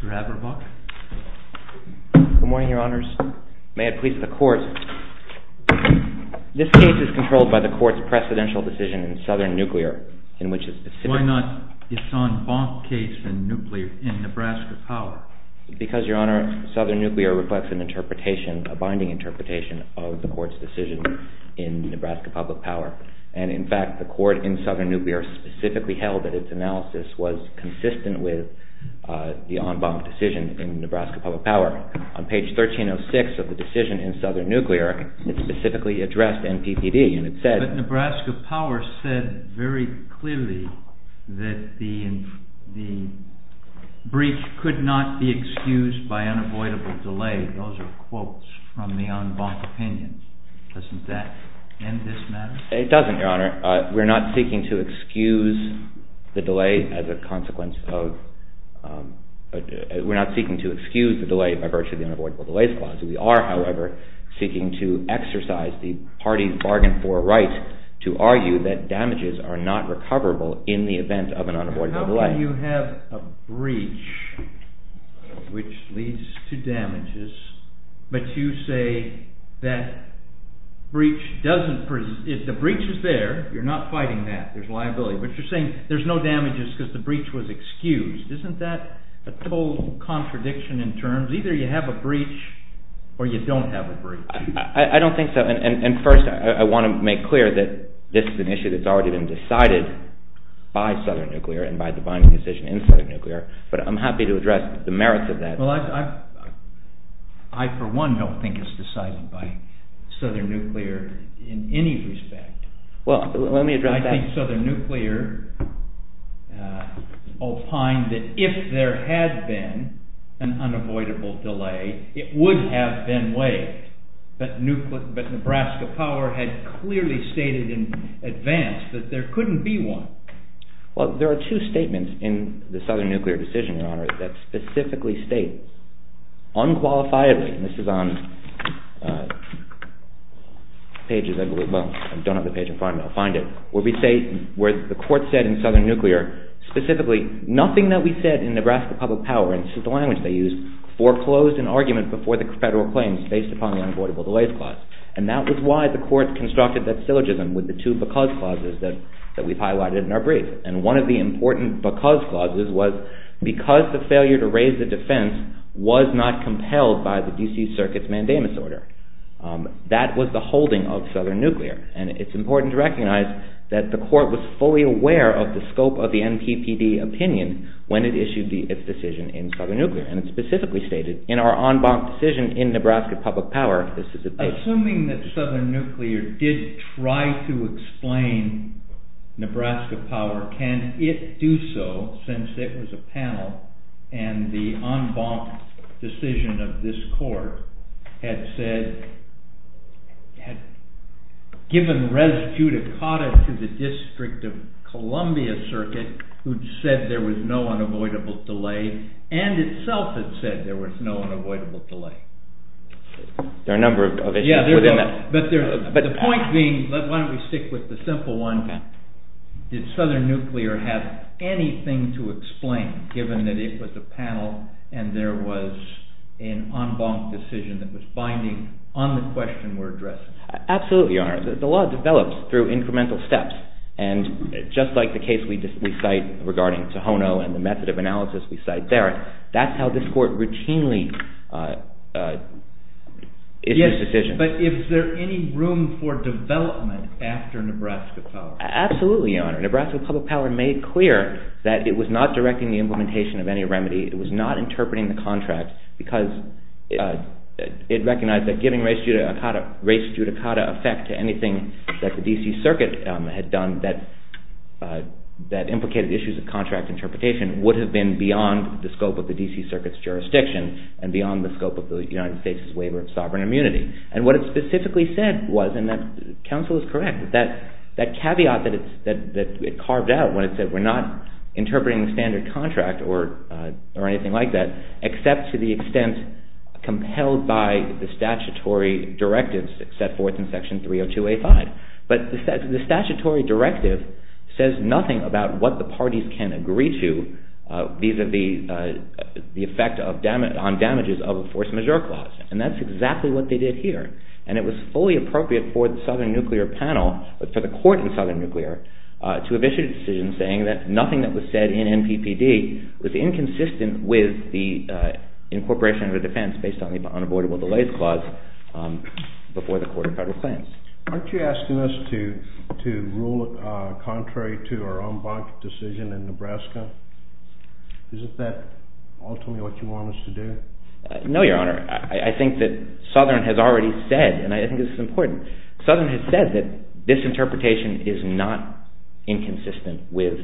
Court of Appeals. MR. ABERBUCK. Good morning, Your Honors. May it please the Court, this case is controlled by the Court's precedential decision in Southern Nuclear, in which it is specific. MR. BOUTROUS. Why not Yuson Bonk case in Nebraska Power? MR. ABERBUCK. Because, Your Honor, Southern Nuclear reflects an interpretation, a binding interpretation, of the Court's decision in Nebraska Public Power. And in fact, the Court in Southern Nuclear specifically held that its analysis was consistent with the Yuson Bonk decision in Nebraska Public Power. On page 1306 of the decision in Southern Nuclear, it specifically addressed NPPD, and it said MR. BOUTROUS. But Nebraska Power said very clearly that the breach could not be excused by unavoidable delay. Those are quotes from the Yuson Bonk opinion. Doesn't that end this matter? MR. ABERBUCK. It doesn't, Your Honor. We're not seeking to excuse the delay as a consequence of—we're not seeking to excuse the delay by virtue of the unavoidable delays clause. We are, however, seeking to exercise the party's bargain for right to argue that damages are not recoverable in the event of an unavoidable delay. MR. BOUTROUS. But you're saying there's no damages because the breach was excused. Isn't that a total contradiction in terms? Either you have a breach or you don't have a breach. MR. ABERBUCK. I don't think so. And first, I want to make clear that this is an issue that's already been decided by Southern Nuclear and by the bonding decision in Southern Nuclear, but I'm happy to address the merits of that. MR. BOUTROUS. Well, I, for one, don't think it's decided by Southern Nuclear in any respect. MR. ABERBUCK. Well, let me address that. MR. BOUTROUS. I think Southern Nuclear opined that if there had been an unavoidable delay, it would have been waived, but Nebraska Power had clearly stated in advance that there couldn't be one. MR. ABERBUCK. Well, there are two statements in the Southern Nuclear decision, Your Honor, that specifically state unqualifiably, and this is on pages, well, I don't have the page in front of me, I'll find it, where we say, where the court said in Southern Nuclear specifically, nothing that we said in Nebraska Public Power, and this is the language they used, foreclosed an argument before the federal claims based upon the unavoidable delays clause. And that was why the court constructed that syllogism with the two because clauses that we've highlighted in our brief. And one of the important because clauses was because the failure to raise the defense was not compelled by the D.C. Circuit's mandamus order. That was the holding of Southern Nuclear, and it's important to recognize that the court was fully aware of the scope of the NPPD opinion when it issued its decision in Southern Nuclear, and it specifically stated, in our en banc decision in Nebraska Public Power, this is the case. Assuming that Southern Nuclear did try to explain Nebraska Power, can it do so, since it was a panel, and the en banc decision of this court had said, had given res judicata to the District of Columbia Circuit, who'd said there was no unavoidable delay, and itself had said there was no unavoidable delay. There are a number of issues within that. But the point being, why don't we stick with the simple one, did Southern Nuclear have anything to explain, given that it was a panel, and there was an en banc decision that was binding on the question we're addressing? Absolutely, Your Honor. The law develops through incremental steps, and just like the case we cite regarding Tohono and the method of analysis we cite there, that's how this court routinely issues decisions. Yes, but is there any room for development after Nebraska Power? Absolutely, Your Honor. Nebraska Public Power made clear that it was not directing the implementation of any remedy, it was not interpreting the contract, because it recognized that giving res judicata effect to anything that the D.C. Circuit had done that implicated issues of contract interpretation would have been beyond the scope of the D.C. Circuit's jurisdiction, and beyond the scope of the United States' waiver of sovereign immunity. And what it specifically said was, and counsel is correct, that caveat that it carved out when it said we're not interpreting the standard contract or anything like that, except to the extent compelled by the statutory directives set forth in Section 302A5. But the statutory directive says nothing about what the parties can agree to vis-à-vis the effect on damages of a force majeure clause, and that's exactly what they did here. And it was fully appropriate for the Southern Nuclear panel, for the court in Southern Nuclear, to have issued a decision saying that nothing that was said in NPPD was inconsistent with the incorporation of a defense based on the unavoidable delays clause before the court of federal claims. Aren't you asking us to rule contrary to our en banc decision in Nebraska? Isn't that ultimately what you want us to do? No, Your Honor. I think that Southern has already said, and I think this is important, Southern has said that this interpretation is not inconsistent with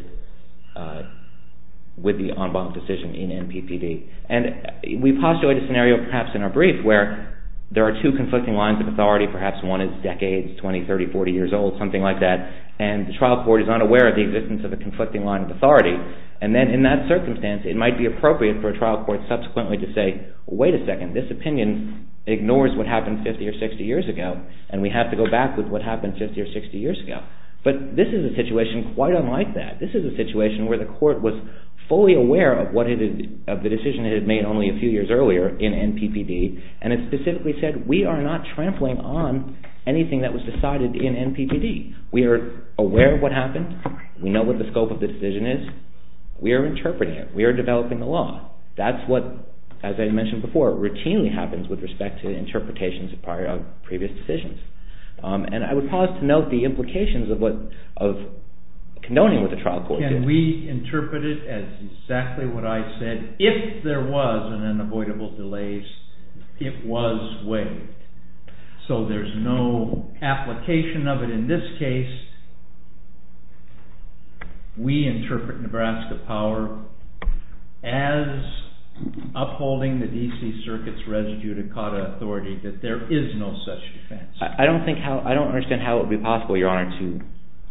the en banc decision in NPPD. And we postulate a scenario perhaps in our brief where there are two conflicting lines of authority, perhaps one is decades, 20, 30, 40 years old, something like that, and the trial court is unaware of the existence of a conflicting line of authority. And then in that circumstance, it might be appropriate for a trial court subsequently to say, wait a second, this opinion ignores what happened 50 or 60 years ago, and we have to go back with what happened 50 or 60 years ago. But this is a situation quite unlike that. This is a situation where the court was fully aware of the decision it had made only a few years earlier in NPPD, and it specifically said, we are not trampling on anything that was decided in NPPD. We are aware of what happened, we know what the scope of the decision is, we are interpreting it, we are developing the law. That's what, as I mentioned before, routinely happens with respect to interpretations prior to previous decisions. And I would pause to note the implications of condoning what the trial court did. Can we interpret it as exactly what I said, if there was an unavoidable delay, it was waived. So there's no application of it in this case. We interpret Nebraska Power as upholding the D.C. Circuit's res judicata authority, that there is no such defense. I don't think, I don't understand how it would be possible, your honor, to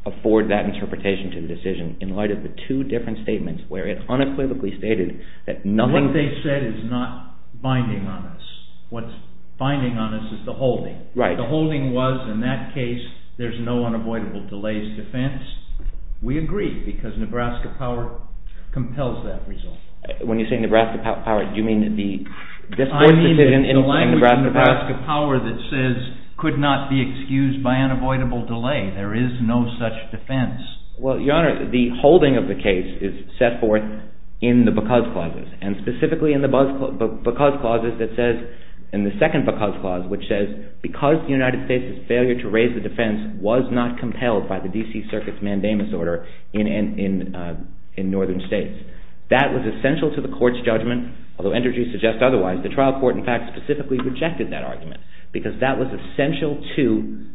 afford that interpretation to the decision in light of the two different statements where it unequivocally stated that nothing... What they said is not binding on us. What's binding on us is the holding. The holding was, in that case, there's no unavoidable delays defense. We agree, because Nebraska Power compels that result. When you say Nebraska Power, do you mean the... I mean the language in Nebraska Power that says, could not be excused by unavoidable delay. There is no such defense. Well, your honor, the holding of the case is set forth in the because clauses, and specifically in the because clauses that says, in the second because clause, which says, because the United States' failure to raise the defense was not compelled by the D.C. Circuit's mandamus order in Northern states. That was essential to the court's judgment, although entities suggest otherwise. The trial court, in fact, specifically rejected that argument, because that was essential to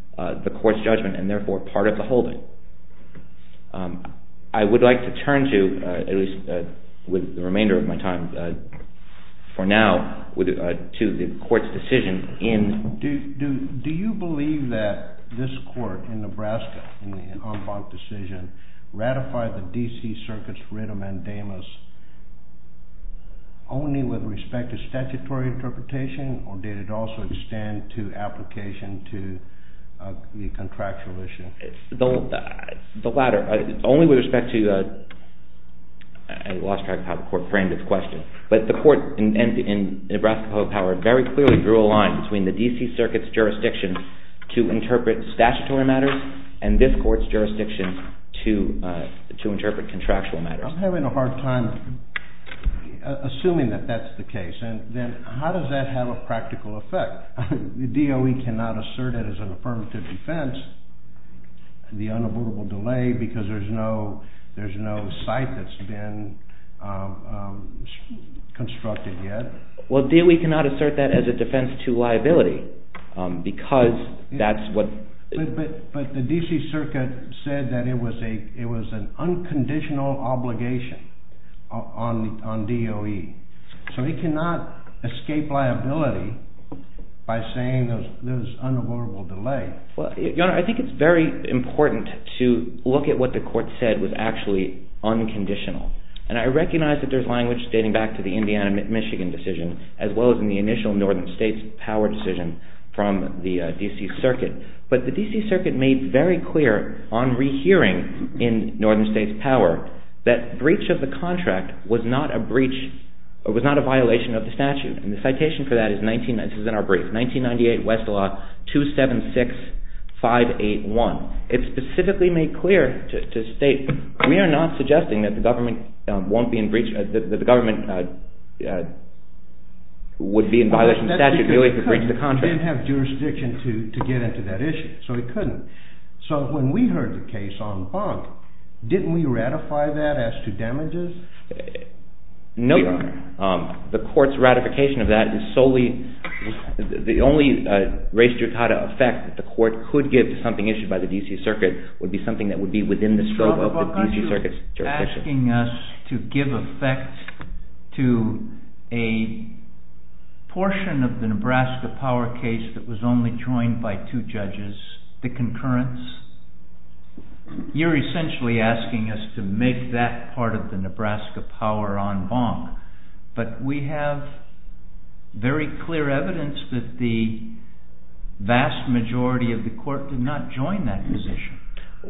the court's judgment, and therefore part of the holding. I would like to turn to, at least with the remainder of my time for now, to the court's decision in... Do you believe that this court in Nebraska, in the en banc decision, ratified the D.C. Circuit's writ of mandamus only with respect to statutory interpretation, or did it also extend to application to the contractual issue? The latter. Only with respect to... I lost track of how the court framed its question, but the court in Nebraska Power very clearly drew a line between the D.C. Circuit's jurisdiction to interpret statutory matters, and this court's jurisdiction to interpret contractual matters. I'm having a hard time assuming that that's the case, and then how does that have a practical effect? The DOE cannot assert it as an affirmative defense, the unavoidable delay, because there's no site that's been constructed yet. Well, DOE cannot assert that as a defense to liability, because that's what... But the D.C. Circuit said that it was an unconditional obligation on DOE, so it cannot escape liability by saying there's unavoidable delay. Well, Your Honor, I think it's very important to look at what the court said was actually unconditional, and I recognize that there's language dating back to the Indiana-Michigan decision, as well as in the initial Northern States Power decision from the D.C. Circuit, but the D.C. Circuit made very clear on rehearing in Northern States Power that breach of the contract was not a violation of the statute, and the citation for that is, this is in our brief, 1998 Westlaw 276581. It specifically made clear to state, we are not suggesting that the government would be in violation of statute merely for breach of the contract. But it didn't have jurisdiction to get into that issue, so it couldn't. So when we heard the case on bond, didn't we ratify that as to damages? No, Your Honor. The court's ratification of that is solely, the only res judicata effect that the court could give to something issued by the D.C. Circuit would be something that would be within the scope of the D.C. Circuit's jurisdiction. You're asking us to give effect to a portion of the Nebraska Power case that was only joined by two judges, the concurrence. You're essentially asking us to make that part of the Nebraska Power on bond. But we have very clear evidence that the vast majority of the court did not join that position.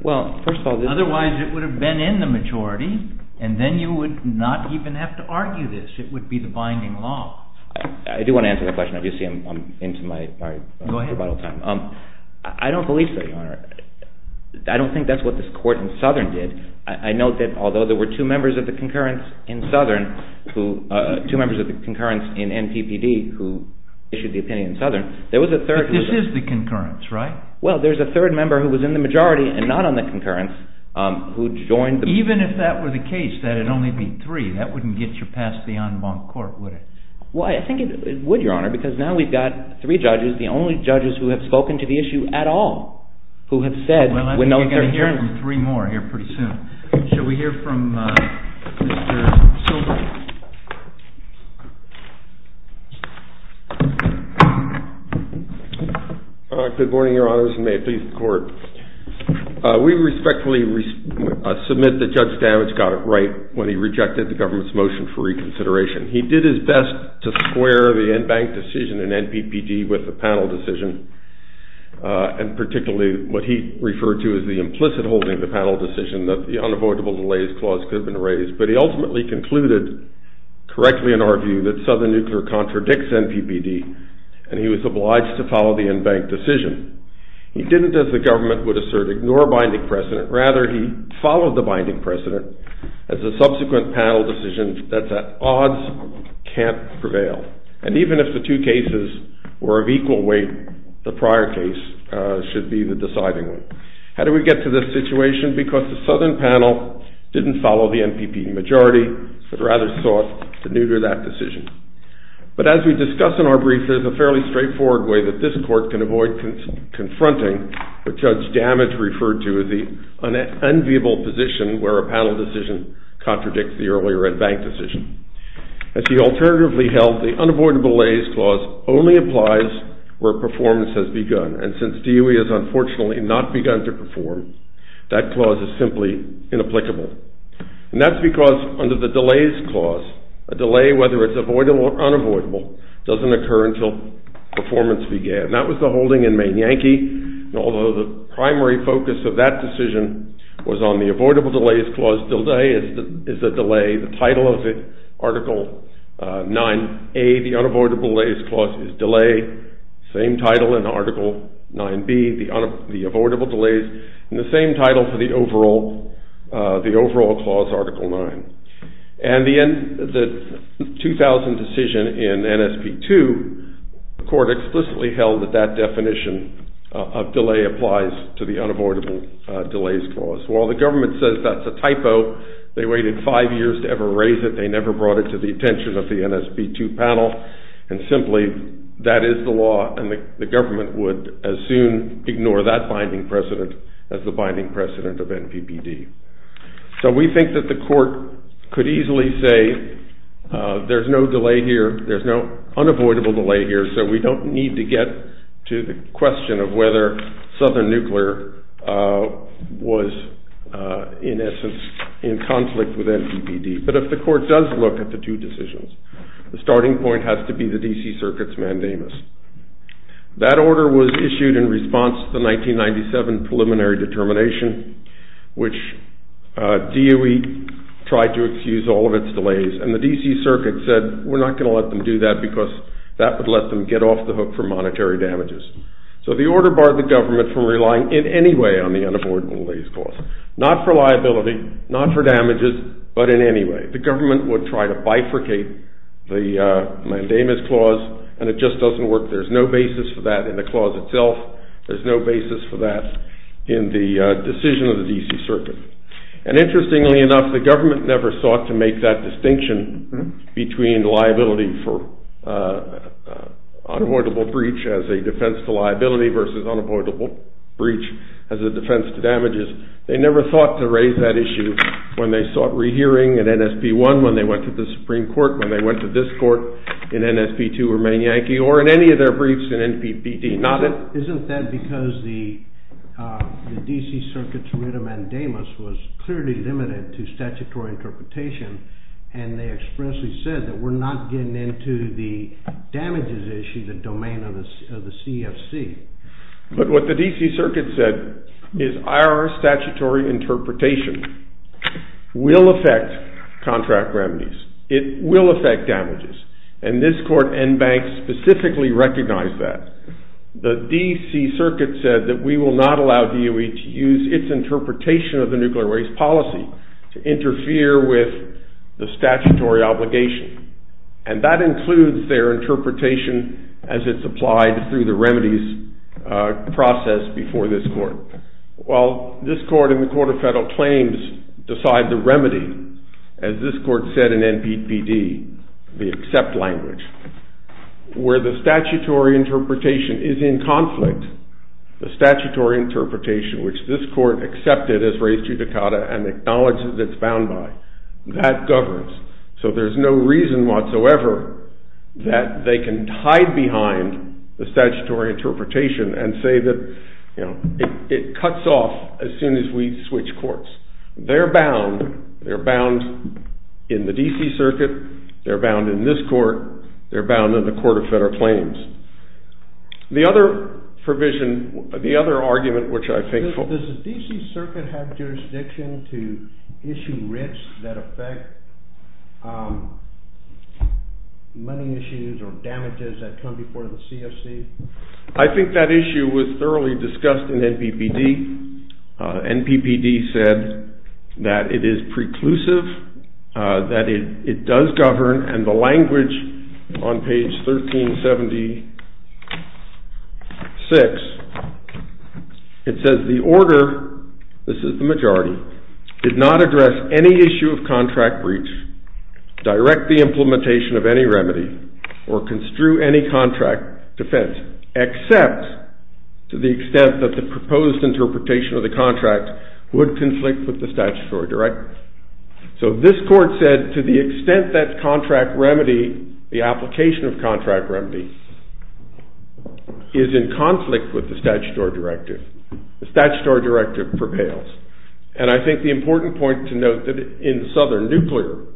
Well, first of all, this... Otherwise, it would have been in the majority, and then you would not even have to argue this. It would be the binding law. I do want to answer the question. I do see I'm into my rebuttal time. Go ahead. I don't believe so, Your Honor. I don't think that's what this court in Southern did. I note that although there were two members of the concurrence in Southern who, two members of the concurrence in NPPD who issued the opinion in Southern, there was a third... But this is the concurrence, right? Well, there's a third member who was in the majority and not on the concurrence who joined the... Even if that were the case, that it'd only be three, that wouldn't get you past the en banc court, would it? Why? I think it would, Your Honor, because now we've got three judges, the only judges who have spoken to the issue at all, who have said, when no third hearing... Well, I think you're going to hear from three more here pretty soon. Shall we hear from Mr. Silver? Good morning, Your Honor. We respectfully submit that Judge Stavage got it right when he rejected the government's motion for reconsideration. He did his best to square the en banc decision in NPPD with the panel decision, and particularly what he referred to as the implicit holding of the panel decision that the unavoidable delays clause could have been raised. But he ultimately concluded correctly in our view that Southern Nuclear contradicts NPPD, and he was obliged to follow the en banc decision. He didn't, as the government would assert, ignore binding precedent. Rather, he followed the binding precedent as a subsequent panel decision that the odds can't prevail. And even if the two cases were of equal weight, the prior case should be the deciding one. How did we get to this situation? Because the Southern panel didn't follow the NPPD majority, but rather sought to neuter that decision. But as we discuss in our brief, there's a fairly straightforward way that this court can avoid confronting what Judge Damage referred to as the unenviable position where a panel decision contradicts the earlier en banc decision. As he alternatively held, the unavoidable delays clause only applies where performance has begun, and since DOE has unfortunately not begun to perform, that clause is simply inapplicable. And that's because under the delays clause, a delay, whether it's avoidable or unavoidable, doesn't occur until performance began. That was the holding in Main Yankee, and although the primary focus of that decision was on the avoidable delays clause, DILDA A is a delay, the title of it, Article 9A, the unavoidable delays clause is delay, same title in Article 9B, the avoidable delays, and the same title for the overall clause, Article 9. And the 2000 decision in NSP2, the court explicitly held that that definition of delay applies to the unavoidable delays clause. While the government says that's a typo, they waited five years to ever raise it, they never brought it to the attention of the NSP2 panel, and simply, that is the law, and the government would as soon ignore that binding precedent as the binding precedent of NPPD. So we think that the court could easily say, there's no delay here, there's no unavoidable delay here, so we don't need to get to the question of whether Southern Nuclear was, in essence, in conflict with NPPD. But if the court does look at the two decisions, the starting point has to be the D.C. Circuit's mandamus. That order was issued in response to the 1997 preliminary determination, which DOE tried to excuse all of its delays, and the D.C. Circuit said, we're not going to let them do that because that would let them get off the hook for monetary damages. So the order barred the government from relying in any way on the unavoidable delays clause. Not for liability, not for damages, but in any way. The government would try to bifurcate the mandamus clause, and it just doesn't work. There's no basis for that in the clause itself. There's no basis for that in the decision of the D.C. Circuit. And interestingly enough, the government never sought to make that distinction between liability for unavoidable breach as a defense to liability versus unavoidable breach as a defense to damages. They never thought to raise that issue when they sought rehearing at NSP1, when they went to the Supreme Court, when they went to this court in NSP2 or Main Yankee, or in any of their briefs in NPPD. Isn't that because the D.C. Circuit's writ of mandamus was clearly limited to statutory interpretation, and they expressly said that we're not getting into the damages issue, the domain of the CFC. But what the D.C. Circuit said is our statutory interpretation will affect contract remedies. It will affect damages, and this court and banks specifically recognize that. The D.C. Circuit said that we will not allow DOE to use its interpretation of the nuclear waste policy to interfere with the statutory obligation, and that includes their interpretation as it's applied through the remedies process before this court. While this court and the Court of Federal Claims decide the remedy, as this court said in NPPD, the accept language, where the statutory interpretation is in conflict, the statutory interpretation which this court accepted as res judicata and acknowledges it's bound by, that governs. So there's no reason whatsoever that they can hide behind the statutory interpretation and say that, you know, it cuts off as soon as we switch courts. They're bound, they're bound in the D.C. Circuit, they're bound in this court, they're bound in the Court of Federal Claims. The other provision, the other argument which I think... Does the D.C. Circuit have jurisdiction to issue writs that affect money issues or damages that come before the C.F.C.? I think that issue was thoroughly discussed in NPPD. NPPD said that it is preclusive, that it does govern, and the language on page 1376, it says the order, this is the majority, did not address any issue of contract breach, direct the implementation of any remedy, or construe any contract defense, except to the extent that the proposed interpretation of the contract would conflict with the statutory directive. So this court said to the extent that contract remedy, the application of contract remedy, is in conflict with the statutory directive, the statutory directive propels. And I think the important point to note that in Southern Nuclear,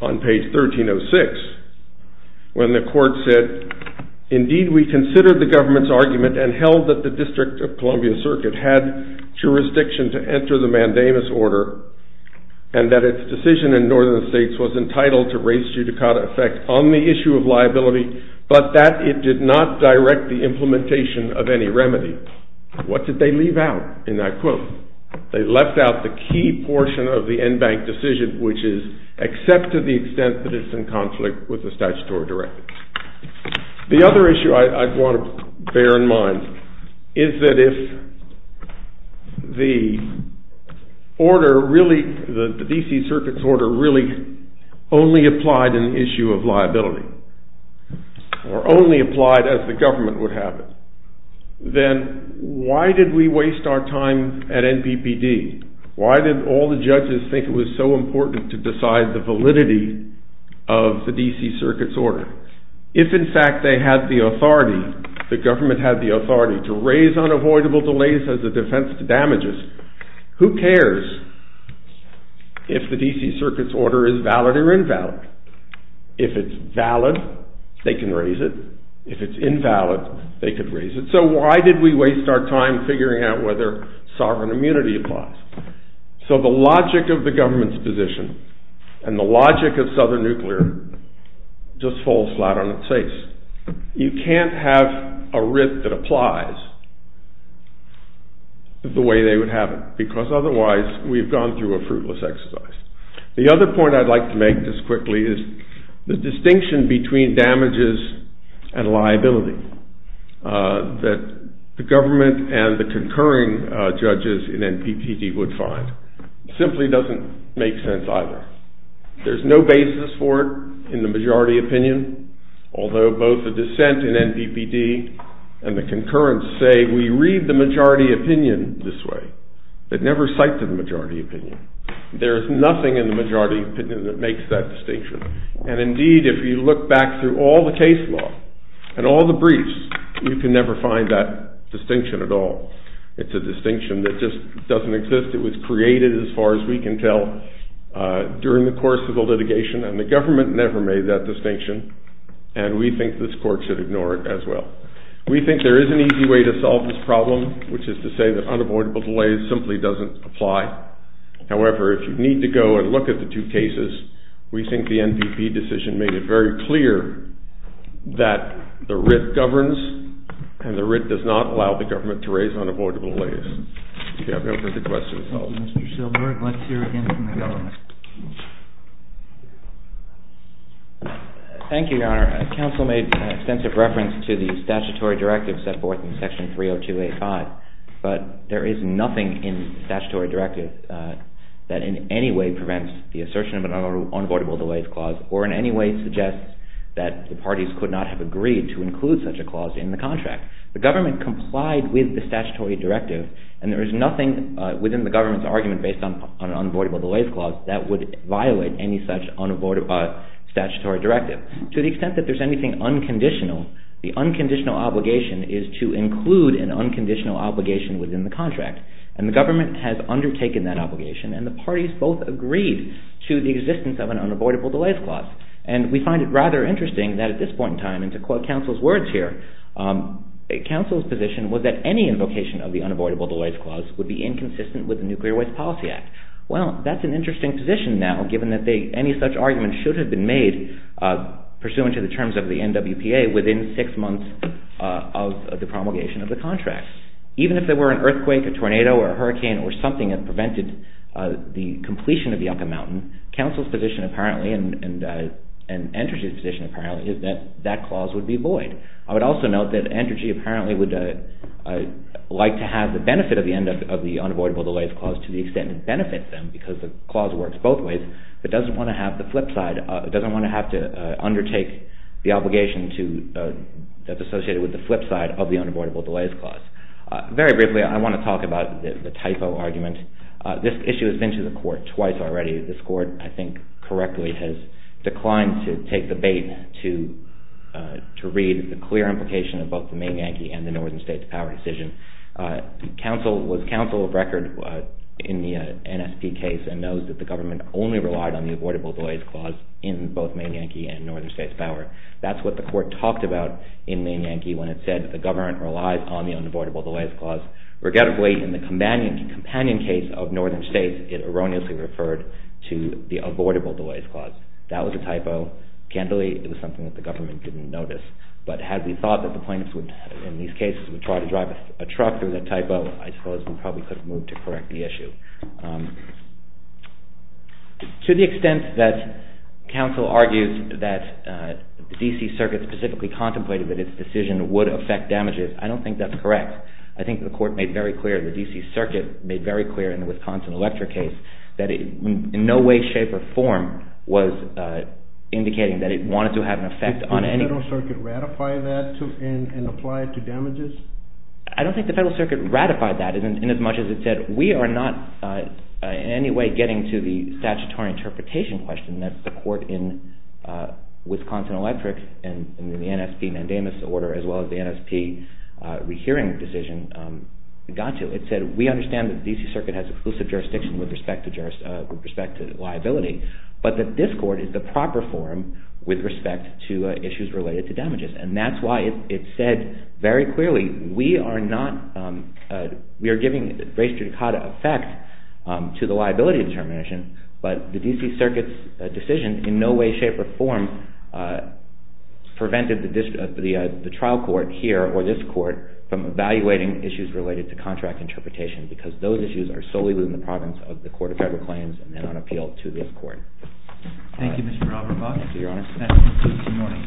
on page 1306, when the court said, indeed we consider the government's argument and held that the District of Columbia Circuit had jurisdiction to enter the mandamus order, and that its decision in Northern States was entitled to raise judicata effect on the issue of liability, but that it did not direct the implementation of any remedy. What did they leave out in that quote? They left out the key portion of the NBank decision, which is except to the extent that it's in conflict with the statutory directive. The other issue I want to bear in mind is that if the order really, the D.C. Circuit's order really only applied an issue of liability, or only applied as the government would have it, then why did we waste our time at NPPD? Why did all the judges think it was so important to decide the validity of the D.C. Circuit's order? If in fact they had the authority, the government had the authority to raise unavoidable delays as a defense to damages, who cares if the D.C. Circuit's order is valid or invalid? If it's valid, they can raise it. If it's invalid, they could raise it. So why did we waste our time figuring out whether sovereign immunity applies? So the logic of the government's position and the logic of Southern Nuclear just falls flat on its face. You can't have a writ that applies the way they would have it, because otherwise we've gone through a fruitless exercise. The other point I'd like to make just quickly is the distinction between damages and liability that the government and the concurring judges in NPPD would find simply doesn't make sense either. There's no basis for it in the majority opinion, although both the dissent in NPPD and the concurrence say we read the majority opinion this way, but never cite to the majority opinion. There's nothing in the majority opinion that makes that distinction. And indeed, if you look back through all the case law and all the briefs, you can never find that distinction at all. It's a distinction that just doesn't exist. It was created, as far as we can tell, during the course of the litigation, and the government never made that distinction, and we think this court should ignore it as well. We think there is an easy way to solve this problem, which is to say that unavoidable delays simply doesn't apply. However, if you need to go and look at the two cases, we think the NPPD decision made it very clear that the writ governs and the writ does not allow the government to raise unavoidable delays. Thank you, Your Honor. Counsel made an extensive reference to the statutory directive set forth in Section 30285, but there is nothing in the statutory directive that in any way prevents the assertion of an unavoidable delays clause, or in any way suggests that the parties could not have agreed to include such a clause in the contract. The government complied with the statutory directive, and there is nothing within the government's argument based on an unavoidable delays clause that would violate any such statutory directive. To the extent that there's anything unconditional, the unconditional obligation is to include an unconditional obligation within the contract, and the government has undertaken that obligation, and the parties both agreed to the existence of an unavoidable delays clause, and we find it rather interesting that at this point in time, and to quote counsel's words here, counsel's position was that any invocation of the unavoidable delays clause would be inconsistent with the Nuclear Waste Policy Act. Well, that's an interesting position now, given that any such argument should have been made pursuant to the terms of the NWPA within six months of the promulgation of the contract. Even if there were an earthquake, a tornado, or a hurricane, or something that prevented the completion of Yucca Mountain, counsel's position apparently, and Entergy's position apparently, is that that clause would be void. I would also note that Entergy apparently would like to have the benefit of the unavoidable delays clause to the extent it benefits them, because the clause works both ways, but doesn't want to have the flip side, doesn't want to have to undertake the obligation that's associated with the flip side of the unavoidable delays clause. Very briefly, I want to talk about the typo argument. This issue has been to the court twice already. This court, I think correctly, has declined to take the bait to read the clear implication of both the Maine Yankee and the Northern States Power decision. Counsel was counsel of record in the NSP case, and knows that the government only relied on the avoidable delays clause in both Maine Yankee and Northern States Power. That's what the court talked about in Maine Yankee when it said the government relies on the unavoidable delays clause. Regrettably, in the companion case of Northern States, it erroneously referred to the avoidable delays clause. That was a typo. Candidly, it was something that the government didn't notice. But had we thought that the plaintiffs would, in these cases, would try to drive a truck through that typo, I suppose we probably could have moved to correct the issue. To the extent that counsel argues that the D.C. Circuit specifically contemplated that its decision would affect damages, I don't think that's correct. I think the court made very clear, the D.C. Circuit made very clear in the Wisconsin Electric case, that in no way, shape, or form was indicating that it wanted to have an effect on any... Did the Federal Circuit ratify that and apply it to damages? I don't think the Federal Circuit ratified that in as much as it said, we are not in any way getting to the statutory interpretation question that the court in Wisconsin Electric and in the NSP mandamus order, as well as the NSP re-hearing decision got to. It said, we understand that the D.C. Circuit has exclusive jurisdiction with respect to liability, but that this court is the proper forum with respect to issues related to damages. And that's why it said very clearly, we are not... We are giving race judicata effect to the liability determination, but the D.C. Circuit's decision in no way, shape, or form prevented the trial court here, or this court, from evaluating issues related to contract interpretation, because those issues are solely within the province of the Court of Federal Claims and then on appeal to this court. Thank you, Mr. Alvarado. Thank you, Your Honor.